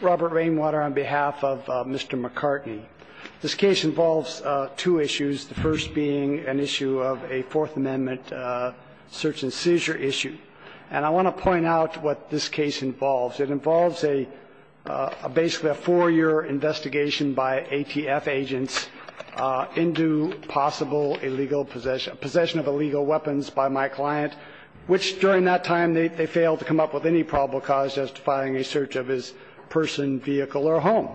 Robert Rainwater on behalf of Mr. McCartney. This case involves two issues, the first being an issue of a Fourth Amendment search-and-seizure issue. And I want to point out what this case involves. It involves a basically a four-year investigation by ATF agents into possible illegal possession of illegal weapons by my client, which during that time they failed to come up with any probable cause testifying a search of his person, vehicle, or home.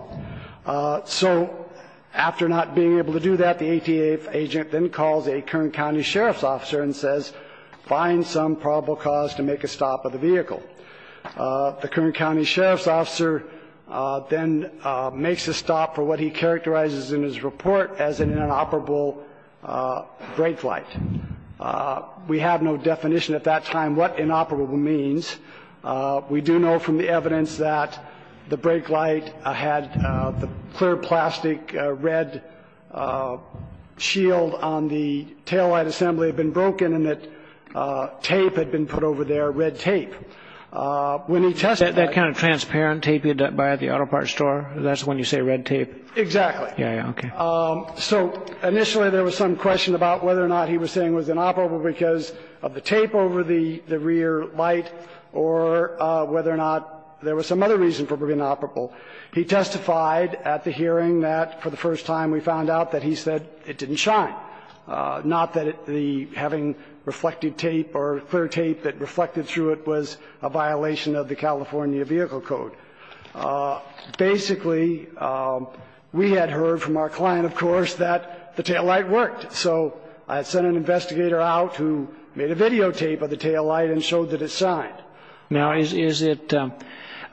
So after not being able to do that, the ATF agent then calls a Kern County Sheriff's officer and says, find some probable cause to make a stop of the vehicle. The Kern County Sheriff's officer then makes a stop for what he characterizes in his report as an inoperable great flight. We have no definition at that time what inoperable means. We do know from the evidence that the brake light had the clear plastic red shield on the taillight assembly had been broken and that tape had been put over there, red tape. When he tested that... That kind of transparent tape you buy at the auto parts store, that's when you say red tape? Exactly. Yeah, yeah, okay. So initially there was some question about whether or not he was saying it was inoperable because of the tape over the rear light. Or whether or not there was some other reason for being inoperable. He testified at the hearing that for the first time we found out that he said it didn't shine. Not that having reflective tape or clear tape that reflected through it was a violation of the California Vehicle Code. Basically, we had heard from our client, of course, that the taillight worked. So I sent an investigator out who made a videotape of the taillight and showed that it shined. Now is it a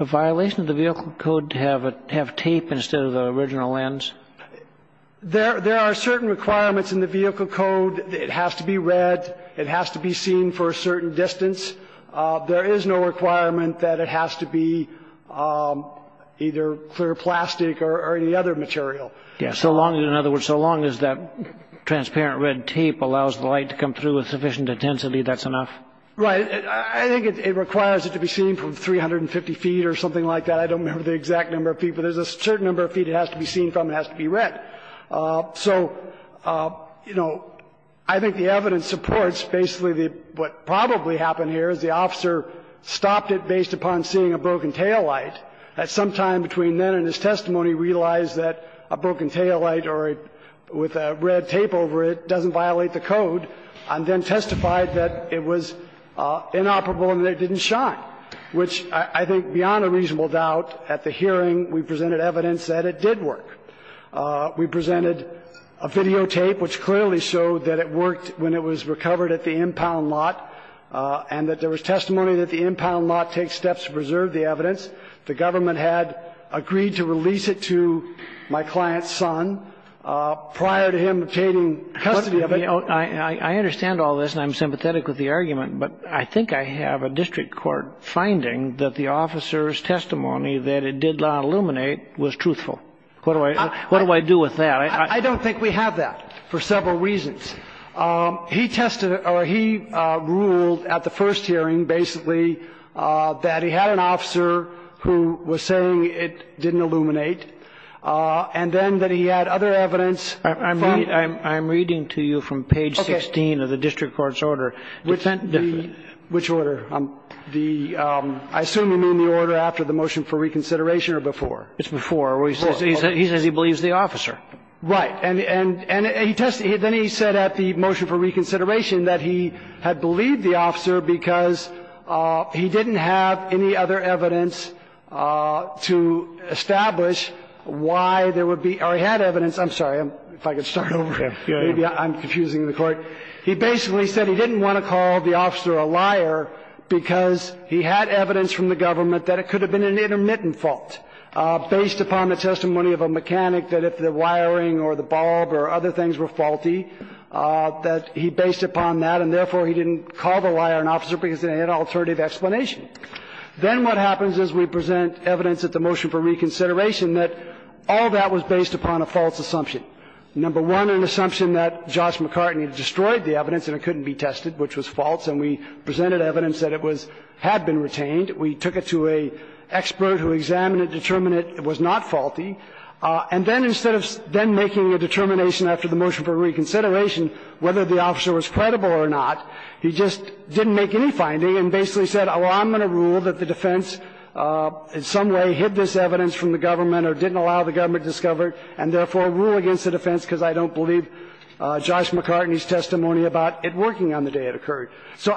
violation of the Vehicle Code to have tape instead of the original lens? There are certain requirements in the Vehicle Code. It has to be red. It has to be seen for a certain distance. There is no requirement that it has to be either clear plastic or any other material. So long as, in other words, so long as that transparent red tape allows the light to come through with sufficient intensity, that's enough? Right. I think it requires it to be seen from 350 feet or something like that. I don't remember the exact number of feet, but there's a certain number of feet it has to be seen from. It has to be red. So, you know, I think the evidence supports basically what probably happened here is the officer stopped it based upon seeing a broken taillight. At some time between then and his testimony, he realized that a broken taillight or a with a red tape over it doesn't violate the code and then testified that it was inoperable and that it didn't shine, which I think beyond a reasonable doubt at the hearing, we presented evidence that it did work. We presented a videotape which clearly showed that it worked when it was recovered at the impound lot and that there was testimony that the impound lot takes steps to preserve the evidence. The government had agreed to release it to my client's son prior to him obtaining custody of it. I understand all this and I'm sympathetic with the argument, but I think I have a district court finding that the officer's testimony that it did not illuminate was truthful. What do I what do I do with that? I don't think we have that for several reasons. He tested or he ruled at the first hearing, basically, that he had an officer who was saying it didn't illuminate and then that he had other evidence. I mean, I'm reading to you from page 16 of the district court's order. Which order? The I assume you mean the order after the motion for reconsideration or before? It's before. He says he believes the officer. Right. And then he said at the motion for reconsideration that he had believed the officer because he didn't have any other evidence to establish why there would be or he had evidence. I'm sorry if I could start over. I'm confusing the court. He basically said he didn't want to call the officer a liar because he had evidence from the government that it could have been an intermittent fault based upon the testimony of a mechanic that if the wiring or the bulb or other things were faulty, that he based upon that and therefore he didn't call the liar an officer because they had alternative explanation. Then what happens is we present evidence at the motion for reconsideration that all that was based upon a false assumption. Number one, an assumption that Josh McCartney destroyed the evidence and it couldn't be tested, which was false, and we presented evidence that it was had been retained. We took it to an expert who examined it, determined it was not faulty. And then instead of then making a determination after the motion for reconsideration whether the officer was credible or not, he just didn't make any finding and basically said, well, I'm going to rule that the defense in some way hid this evidence from the government or didn't allow the government to discover it and therefore rule against the defense because I don't believe Josh McCartney's testimony about it working on the day it occurred. So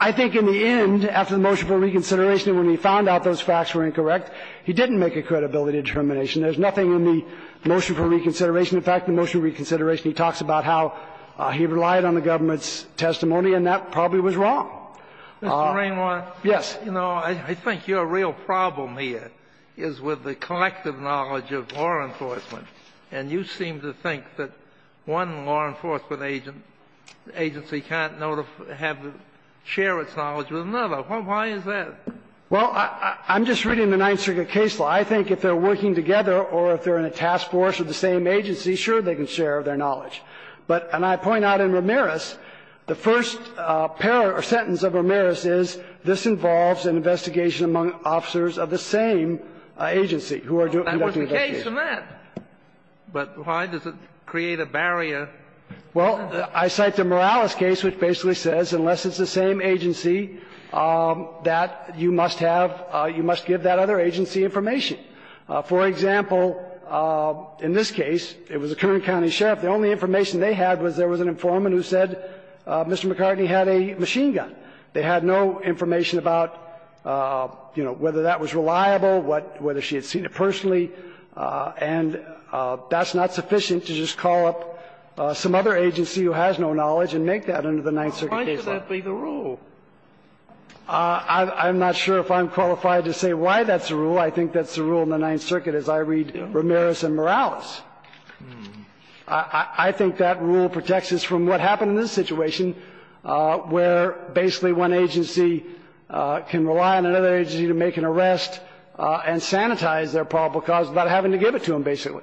I think in the end, after the motion for reconsideration, when he found out those facts were incorrect, he didn't make a credibility determination. There's nothing in the motion for reconsideration. In fact, the motion for reconsideration, he talks about how he relied on the government's testimony, and that probably was wrong. Yes. You know, I think your real problem here is with the collective knowledge of law enforcement. And you seem to think that one law enforcement agency can't know to have to share its knowledge with another. Why is that? Well, I'm just reading the Ninth Circuit case law. I think if they're working together or if they're in a task force of the same agency, sure, they can share their knowledge. But and I point out in Ramirez, the first pair or sentence of Ramirez is this involves an investigation among officers of the same agency who are conducting the investigation. So there's a barrier to that. But why does it create a barrier? Well, I cite the Morales case, which basically says, unless it's the same agency, that you must have you must give that other agency information. For example, in this case, it was a Kern County sheriff. The only information they had was there was an informant who said Mr. McCartney had a machine gun. They had no information about, you know, whether that was reliable, whether she had been a victim of an offense, whether she was in a car accident, whether she was They had no information. So there's a barrier. And that's not sufficient to just call up some other agency who has no knowledge and make that under the Ninth Circuit case law. Why should that be the rule? I'm not sure if I'm qualified to say why that's the rule. I think that's the rule in the Ninth Circuit as I read Ramirez and Morales. I think that rule protects us from what happened in this situation, where basically one agency can rely on another agency to make an arrest and sanitize their probable cause without having to give it to them, basically.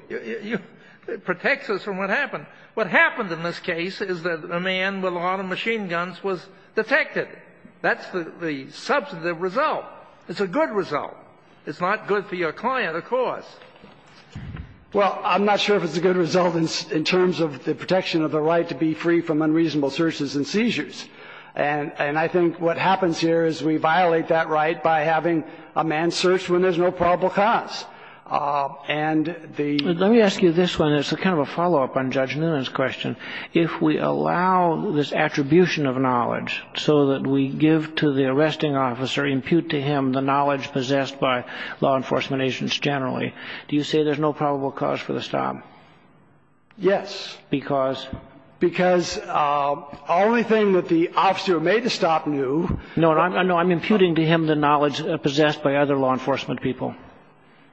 It protects us from what happened. What happened in this case is that a man with a lot of machine guns was detected. That's the substantive result. It's a good result. It's not good for your client, of course. Well, I'm not sure if it's a good result in terms of the protection of the right to be free from unreasonable searches and seizures. And I think what happens here is we violate that right by having a man searched when there's no probable cause. And the ---- Let me ask you this one. It's kind of a follow-up on Judge Newman's question. If we allow this attribution of knowledge so that we give to the arresting officer, impute to him the knowledge possessed by law enforcement agents generally, do you say there's no probable cause for the stop? Yes. Because? Because the only thing that the officer who made the stop knew ---- No, I'm imputing to him the knowledge possessed by other law enforcement people.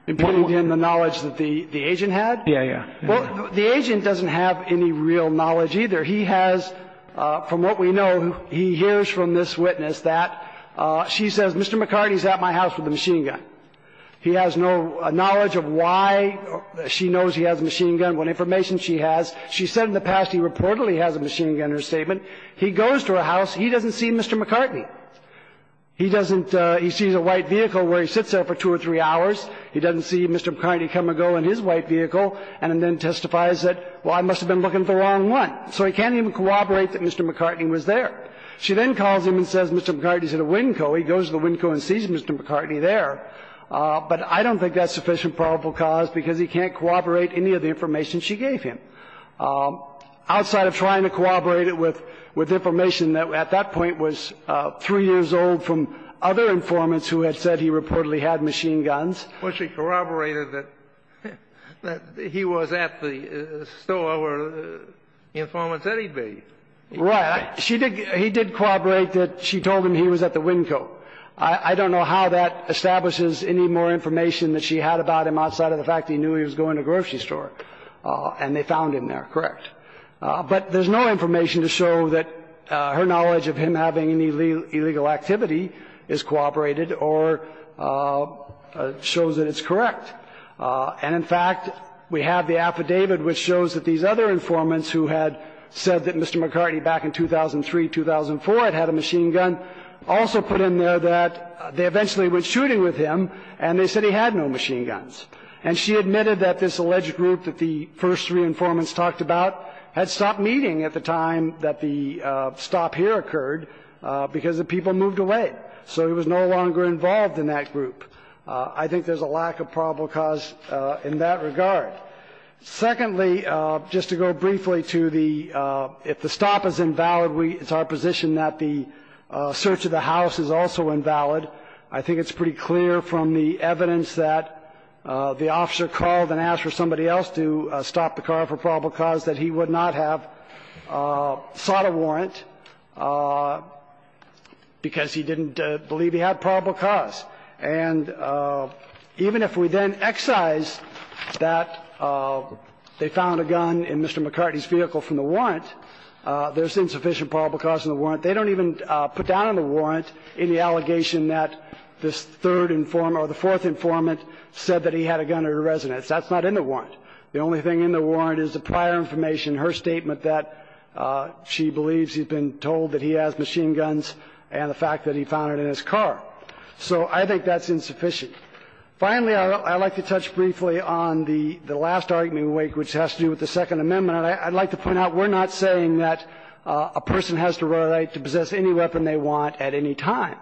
Imputing to him the knowledge that the agent had? Yeah, yeah. Well, the agent doesn't have any real knowledge either. He has, from what we know, he hears from this witness that she says, Mr. McCarty's at my house with a machine gun. He has no knowledge of why she knows he has a machine gun, what information she has. She said in the past he reportedly has a machine gun in her statement. He goes to her house. He doesn't see Mr. McCarty. He doesn't ---- he sees a white vehicle where he sits there for two or three hours. He doesn't see Mr. McCarty come and go in his white vehicle and then testifies that, well, I must have been looking at the wrong one. So he can't even corroborate that Mr. McCarty was there. She then calls him and says, Mr. McCarty's at a Winco. He goes to the Winco and sees Mr. McCarty there. But I don't think that's sufficient probable cause, because he can't corroborate any of the information she gave him. Outside of trying to corroborate it with information that at that point was three years old from other informants who had said he reportedly had machine guns. Kennedy. Well, she corroborated that he was at the store where the informant said he'd be. Right. She did ---- he did corroborate that she told him he was at the Winco. I don't know how that establishes any more information that she had about him outside of the fact that he knew he was going to a grocery store. And they found him there. Correct. But there's no information to show that her knowledge of him having any illegal activity is corroborated or shows that it's correct. And, in fact, we have the affidavit which shows that these other informants who had said that Mr. McCarty back in 2003, 2004 had had a machine gun also put him there that they eventually went shooting with him, and they said he had no machine guns. And she admitted that this alleged group that the first three informants talked about had stopped meeting at the time that the stop here occurred because the people moved away. So he was no longer involved in that group. I think there's a lack of probable cause in that regard. Secondly, just to go briefly to the ---- if the stop is invalid, we ---- it's our position that the search of the house is also invalid. I think it's pretty clear from the evidence that the officer called and asked for somebody else to stop the car for probable cause that he would not have sought a warrant because he didn't believe he had probable cause. And even if we then excise that they found a gun in Mr. McCarty's vehicle from the they don't even put down in the warrant any allegation that this third informant or the fourth informant said that he had a gun in her residence. That's not in the warrant. The only thing in the warrant is the prior information, her statement that she believes he's been told that he has machine guns and the fact that he found it in his car. So I think that's insufficient. Finally, I'd like to touch briefly on the last argument we make, which has to do with the Second Amendment. And I'd like to point out we're not saying that a person has the right to possess any weapon they want at any time.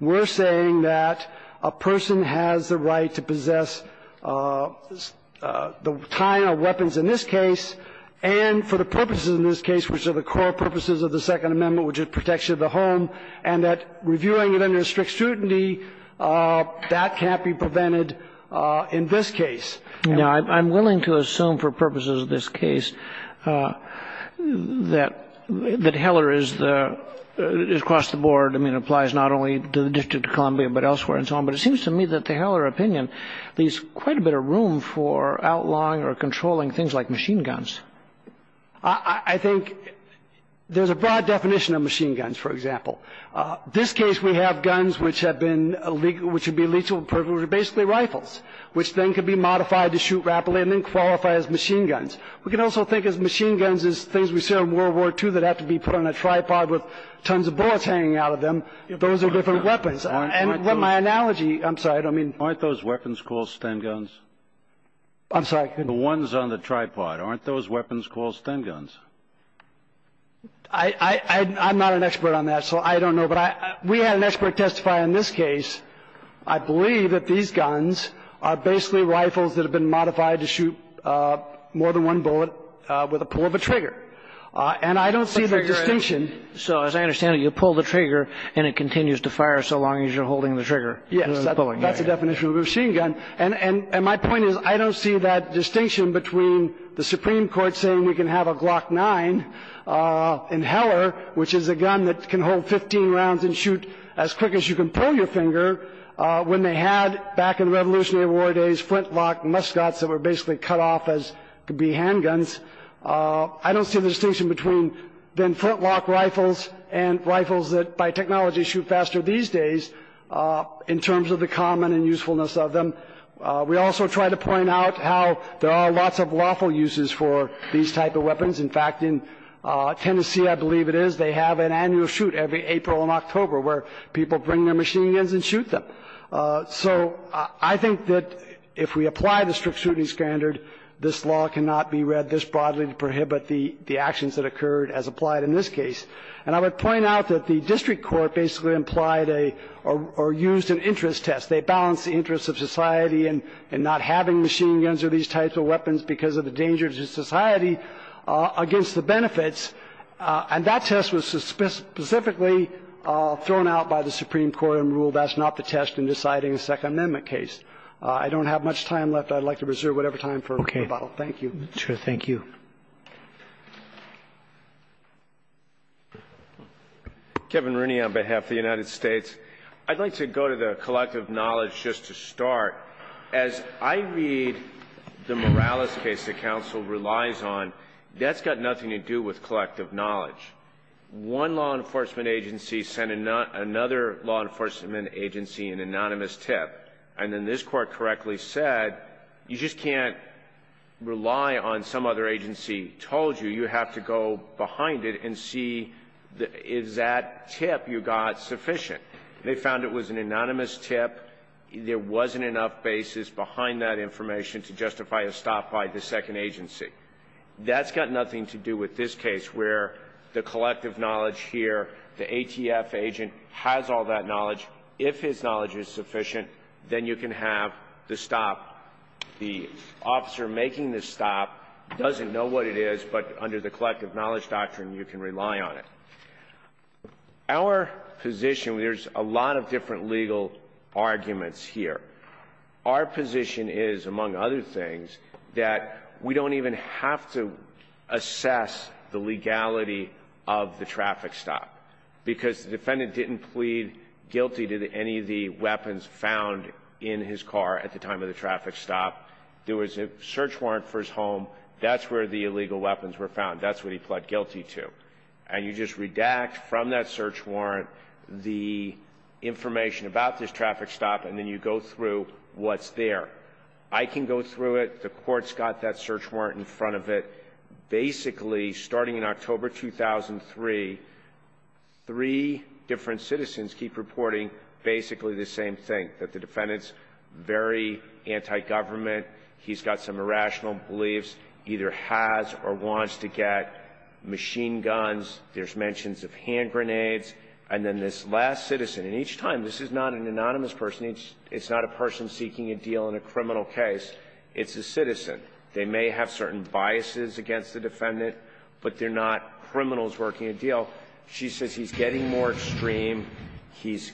We're saying that a person has the right to possess the kind of weapons in this case and for the purposes in this case, which are the core purposes of the Second Amendment, which is protection of the home, and that reviewing it under strict scrutiny, that can't be prevented in this case. Now, I'm willing to assume for purposes of this case that Heller is the across the board, I mean, applies not only to the District of Columbia, but elsewhere and so on. But it seems to me that the Heller opinion leaves quite a bit of room for outlawing or controlling things like machine guns. I think there's a broad definition of machine guns, for example. This case, we have guns which have been, which would be lethal, which are basically modified to shoot rapidly, and then qualify as machine guns. We can also think of machine guns as things we see in World War II that have to be put on a tripod with tons of bullets hanging out of them. Those are different weapons. And my analogy, I'm sorry, I don't mean to be rude. Aren't those weapons called Sten guns? I'm sorry? The ones on the tripod. Aren't those weapons called Sten guns? I'm not an expert on that, so I don't know. But we had an expert testify in this case. I believe that these guns are basically rifles that have been modified to shoot more than one bullet with a pull of a trigger. And I don't see the distinction. So as I understand it, you pull the trigger and it continues to fire so long as you're holding the trigger. Yes, that's the definition of a machine gun. And my point is, I don't see that distinction between the Supreme Court saying we can have a Glock 9 in Heller, which is a gun that can hold 15 rounds and shoot as quick as you can pull your finger, when they had, back in Revolutionary War days, flintlock muskets that were basically cut off as could be handguns. I don't see the distinction between then flintlock rifles and rifles that, by technology, shoot faster these days in terms of the common and usefulness of them. We also try to point out how there are lots of waffle uses for these type of weapons. In fact, in Tennessee, I believe it is, they have an annual shoot every April and they bring their machine guns and shoot them. So I think that if we apply the strict shooting standard, this law cannot be read this broadly to prohibit the actions that occurred as applied in this case. And I would point out that the district court basically implied a, or used an interest test. They balanced the interests of society in not having machine guns or these types of weapons because of the dangers to society against the benefits. And that test was specifically thrown out by the Supreme Court and ruled that's not the test in deciding a Second Amendment case. I don't have much time left. I'd like to reserve whatever time for rebuttal. Thank you. Roberts. Thank you. Roberts. Thank you. Kagan on behalf of the United States, I'd like to go to the collective knowledge just to start. As I read the Morales case that counsel relies on, that's got nothing to do with the collective knowledge. One law enforcement agency sent another law enforcement agency an anonymous tip, and then this Court correctly said, you just can't rely on some other agency told you. You have to go behind it and see is that tip you got sufficient. They found it was an anonymous tip. There wasn't enough basis behind that information to justify a stop by the second agency. That's got nothing to do with this case where the collective knowledge here, the ATF agent has all that knowledge. If his knowledge is sufficient, then you can have the stop. The officer making the stop doesn't know what it is, but under the collective knowledge doctrine, you can rely on it. Our position, there's a lot of different legal arguments here. Our position is, among other things, that we don't even have to assess the legality of the traffic stop, because the defendant didn't plead guilty to any of the weapons found in his car at the time of the traffic stop. There was a search warrant for his home. That's where the illegal weapons were found. That's what he pled guilty to. And you just redact from that search warrant the information about this traffic stop, and then you go through what's there. I can go through it. The court's got that search warrant in front of it. Basically, starting in October 2003, three different citizens keep reporting basically the same thing, that the defendant's very anti-government. He's got some irrational beliefs, either has or wants to get machine guns. There's mentions of hand grenades. And then this last citizen, and each time, this is not an anonymous person. It's not a person seeking a deal in a criminal case. It's a citizen. They may have certain biases against the defendant, but they're not criminals working a deal. She says he's getting more extreme. He's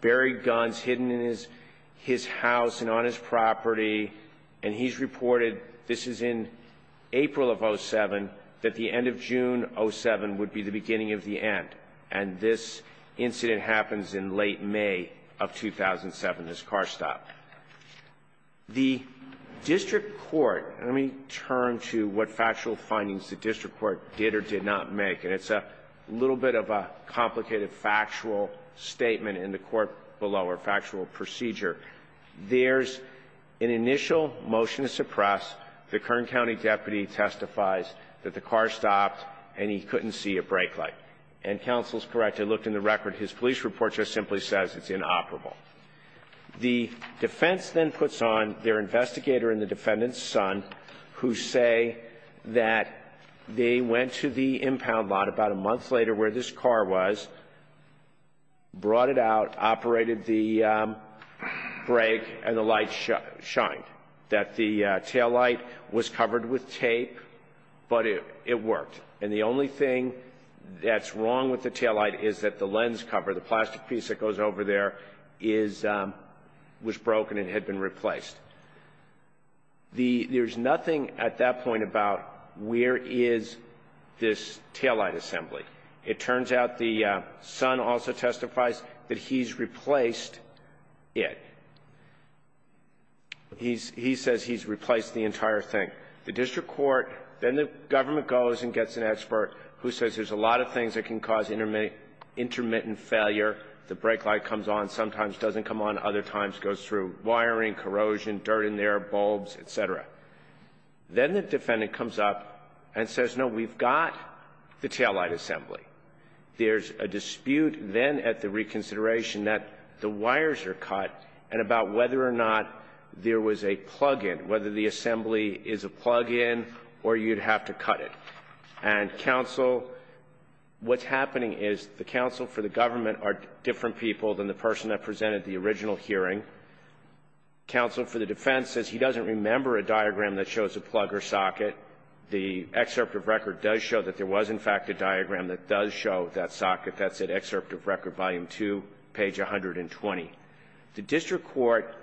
buried guns hidden in his house and on his property, and he's reported this is in April of 07, that the end of June 07 would be the beginning of the end. And this incident happens in late May of 2007, this car stop. The district court, let me turn to what factual findings the district court did or did not make. And it's a little bit of a complicated factual statement in the court below, or factual procedure. There's an initial motion to suppress. The Kern County deputy testifies that the car stopped and he couldn't see a brake light. And counsel's correct, I looked in the record. His police report just simply says it's inoperable. The defense then puts on their investigator and the defendant's son who say that they went to the impound lot about a month later where this car was, brought it out, operated the brake, and the light shined. That the taillight was covered with tape, but it worked. And the only thing that's wrong with the taillight is that the lens cover, the plastic piece that goes over there, was broken and had been replaced. There's nothing at that point about where is this taillight assembly. It turns out the son also testifies that he's replaced it. He says he's replaced the entire thing. The district court, then the government goes and gets an expert who says there's a lot of things that can cause intermittent failure. The brake light comes on, sometimes doesn't come on, other times goes through wiring, corrosion, dirt in there, bulbs, et cetera. Then the defendant comes up and says, no, we've got the taillight assembly. There's a dispute then at the reconsideration that the wires are cut and about whether or not there was a plug-in, whether the assembly is a plug-in or you'd have to cut it. And counsel, what's happening is the counsel for the government are different people than the person that presented the original hearing. Counsel for the defense says he doesn't remember a diagram that shows a plug or The excerpt of record does show that there was, in fact, a diagram that does show that socket. That's at excerpt of record volume two, page 120. The district court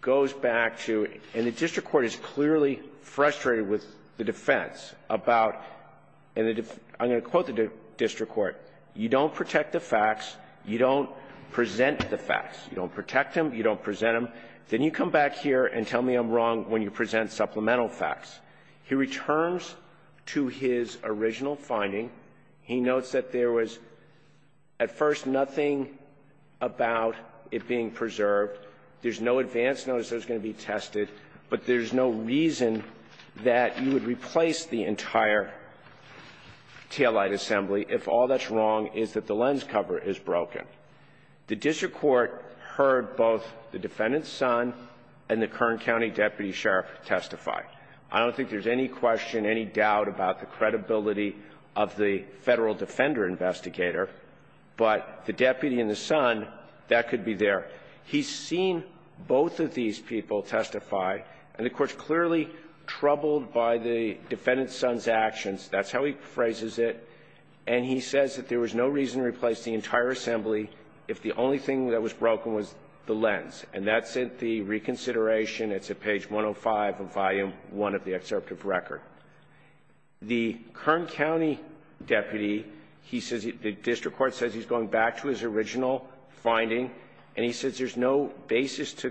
goes back to, and the district court is clearly frustrated with the defense about, and I'm going to quote the district court, you don't protect the facts, you don't present the facts. You don't protect them, you don't present them. Then you come back here and tell me I'm wrong when you present supplemental facts. He returns to his original finding. He notes that there was, at first, nothing about it being preserved. There's no advance notice that was going to be tested. But there's no reason that you would replace the entire taillight assembly if all that's wrong is that the lens cover is broken. The district court heard both the defendant's son and the Kern County deputy sheriff testify. I don't think there's any question, any doubt about the credibility of the Federal Defender Investigator. But the deputy and the son, that could be there. He's seen both of these people testify. And the court's clearly troubled by the defendant's son's actions. That's how he phrases it. And he says that there was no reason to replace the entire assembly if the only thing that was broken was the lens. And that's at the reconsideration. It's at page 105 of volume one of the excerpt of record. The Kern County deputy, the district court says he's going back to his original finding, and he says there's no basis to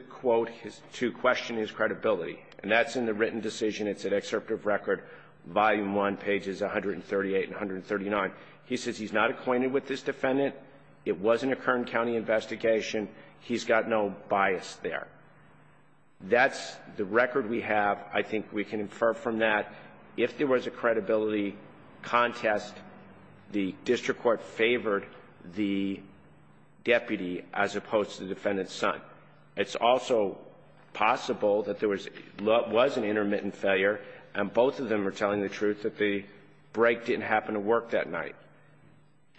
question his credibility. And that's in the written decision. It's an excerpt of record, volume one, pages 138 and 139. He says he's not acquainted with this defendant. It wasn't a Kern County investigation. He's got no bias there. That's the record we have. I think we can infer from that if there was a credibility contest, the district court favored the deputy as opposed to the defendant's son. It's also possible that there was an intermittent failure, and both of them are telling the truth that the break didn't happen to work that night.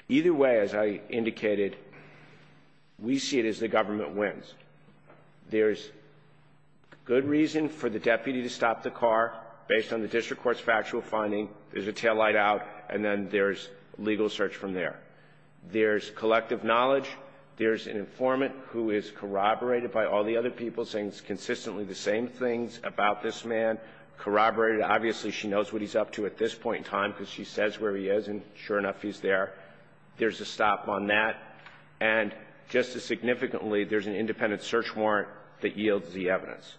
Either way, as I indicated, we see it as the government wins. There's good reason for the deputy to stop the car based on the district court's factual finding. There's a taillight out, and then there's legal search from there. There's collective knowledge. There's an informant who is corroborated by all the other people, saying consistently the same things about this man. Corroborated, obviously, she knows what he's up to at this point in time, because she says where he is, and sure enough, he's there. There's a stop on that. And just as significantly, there's an independent search warrant that yields the evidence.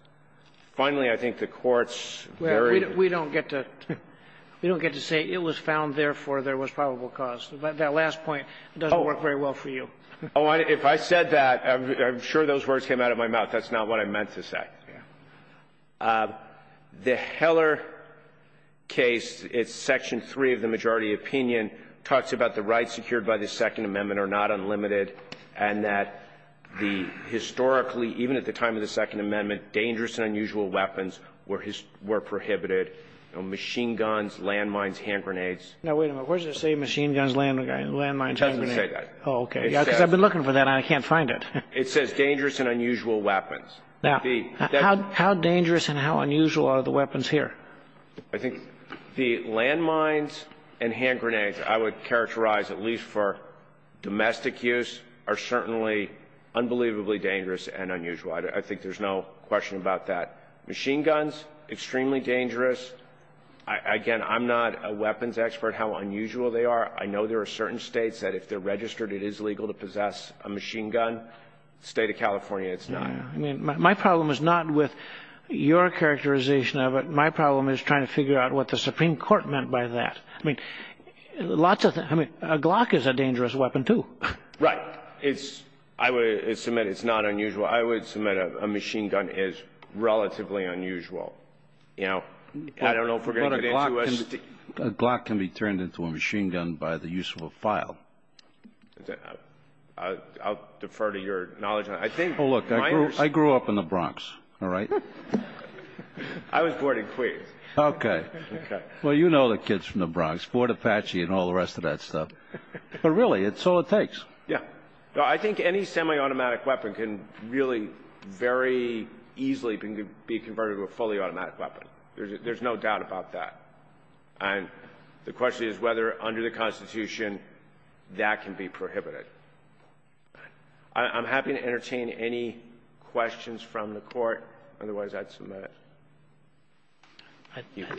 Finally, I think the Court's very ---- We don't get to say it was found, therefore, there was probable cause. That last point doesn't work very well for you. Oh, if I said that, I'm sure those words came out of my mouth. That's not what I meant to say. The Heller case, it's Section 3 of the majority opinion, talks about the rights secured by the Second Amendment are not unlimited, and that the historically, even at the time of the Second Amendment, dangerous and unusual weapons were prohibited. You know, machine guns, landmines, hand grenades. Now, wait a minute. Where does it say machine guns, landmines, hand grenades? It doesn't say that. Oh, OK. Because I've been looking for that, and I can't find it. It says dangerous and unusual weapons. Now, how dangerous and how unusual are the weapons here? I think the landmines and hand grenades, I would characterize at least for domestic use, are certainly unbelievably dangerous and unusual. I think there's no question about that. Machine guns, extremely dangerous. Again, I'm not a weapons expert how unusual they are. I know there are certain States that if they're registered, it is legal to possess a machine gun. State of California, it's not. My problem is not with your characterization of it. My problem is trying to figure out what the Supreme Court meant by that. I mean, a Glock is a dangerous weapon, too. Right. It's, I would submit, it's not unusual. I would submit a machine gun is relatively unusual. You know, I don't know if we're going to get into it. A Glock can be turned into a machine gun by the use of a file. I'll defer to your knowledge. Oh, look, I grew up in the Bronx, all right? I was born in Queens. Okay. Well, you know the kids from the Bronx. Fort Apache and all the rest of that stuff. But really, it's all it takes. Yeah. No, I think any semi-automatic weapon can really very easily be converted to a fully automatic weapon. There's no doubt about that. And the question is whether under the Constitution that can be prohibited. I'm happy to entertain any questions from the Court. Otherwise, I'd submit it.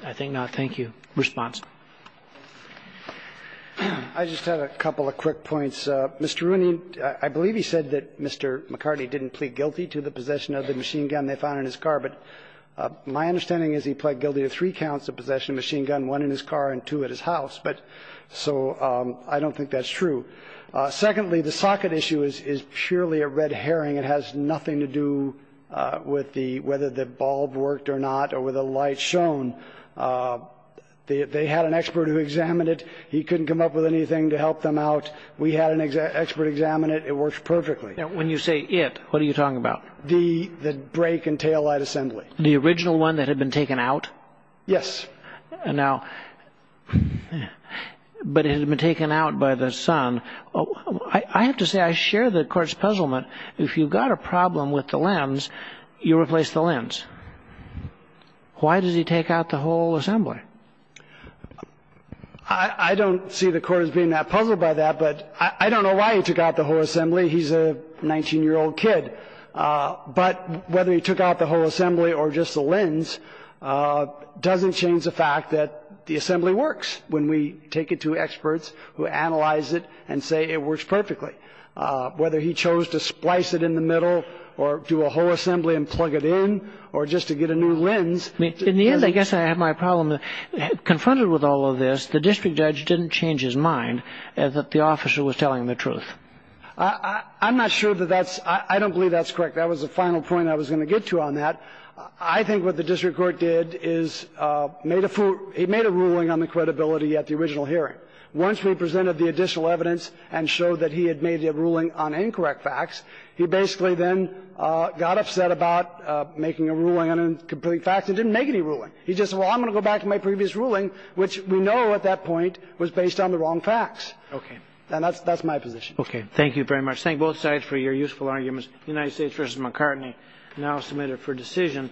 I think not. Thank you. Response. I just have a couple of quick points. Mr. Rooney, I believe he said that Mr. McCartney didn't plead guilty to the possession of the machine gun they found in his car. But my understanding is he pled guilty to three counts of possession of a machine gun, one in his car and two at his house. But so I don't think that's true. Secondly, the socket issue is purely a red herring. It has nothing to do with whether the bulb worked or not or whether the light shone. They had an expert who examined it. He couldn't come up with anything to help them out. We had an expert examine it. It works perfectly. When you say it, what are you talking about? The brake and taillight assembly. The original one that had been taken out? Yes. Now, but it had been taken out by the sun. I have to say I share the court's puzzlement. If you've got a problem with the lens, you replace the lens. Why does he take out the whole assembly? I don't see the court as being that puzzled by that, but I don't know why he took out the whole assembly. He's a 19-year-old kid. But whether he took out the whole assembly or just the lens doesn't change the fact that the assembly works when we take it to experts who analyze it and say it works perfectly. Whether he chose to splice it in the middle or do a whole assembly and plug it in or just to get a new lens. In the end, I guess I have my problem. Confronted with all of this, the district judge didn't change his mind that the officer was telling the truth. I'm not sure that that's – I don't believe that's correct. That was the final point I was going to get to on that. I think what the district court did is made a – he made a ruling on the credibility at the original hearing. Once we presented the additional evidence and showed that he had made a ruling on incorrect facts, he basically then got upset about making a ruling on incomplete facts and didn't make any ruling. He just said, well, I'm going to go back to my previous ruling, which we know at that point was based on the wrong facts. Okay. And that's my position. Thank you very much. Thank both sides for your useful arguments. United States v. McCartney, now submitted for decision.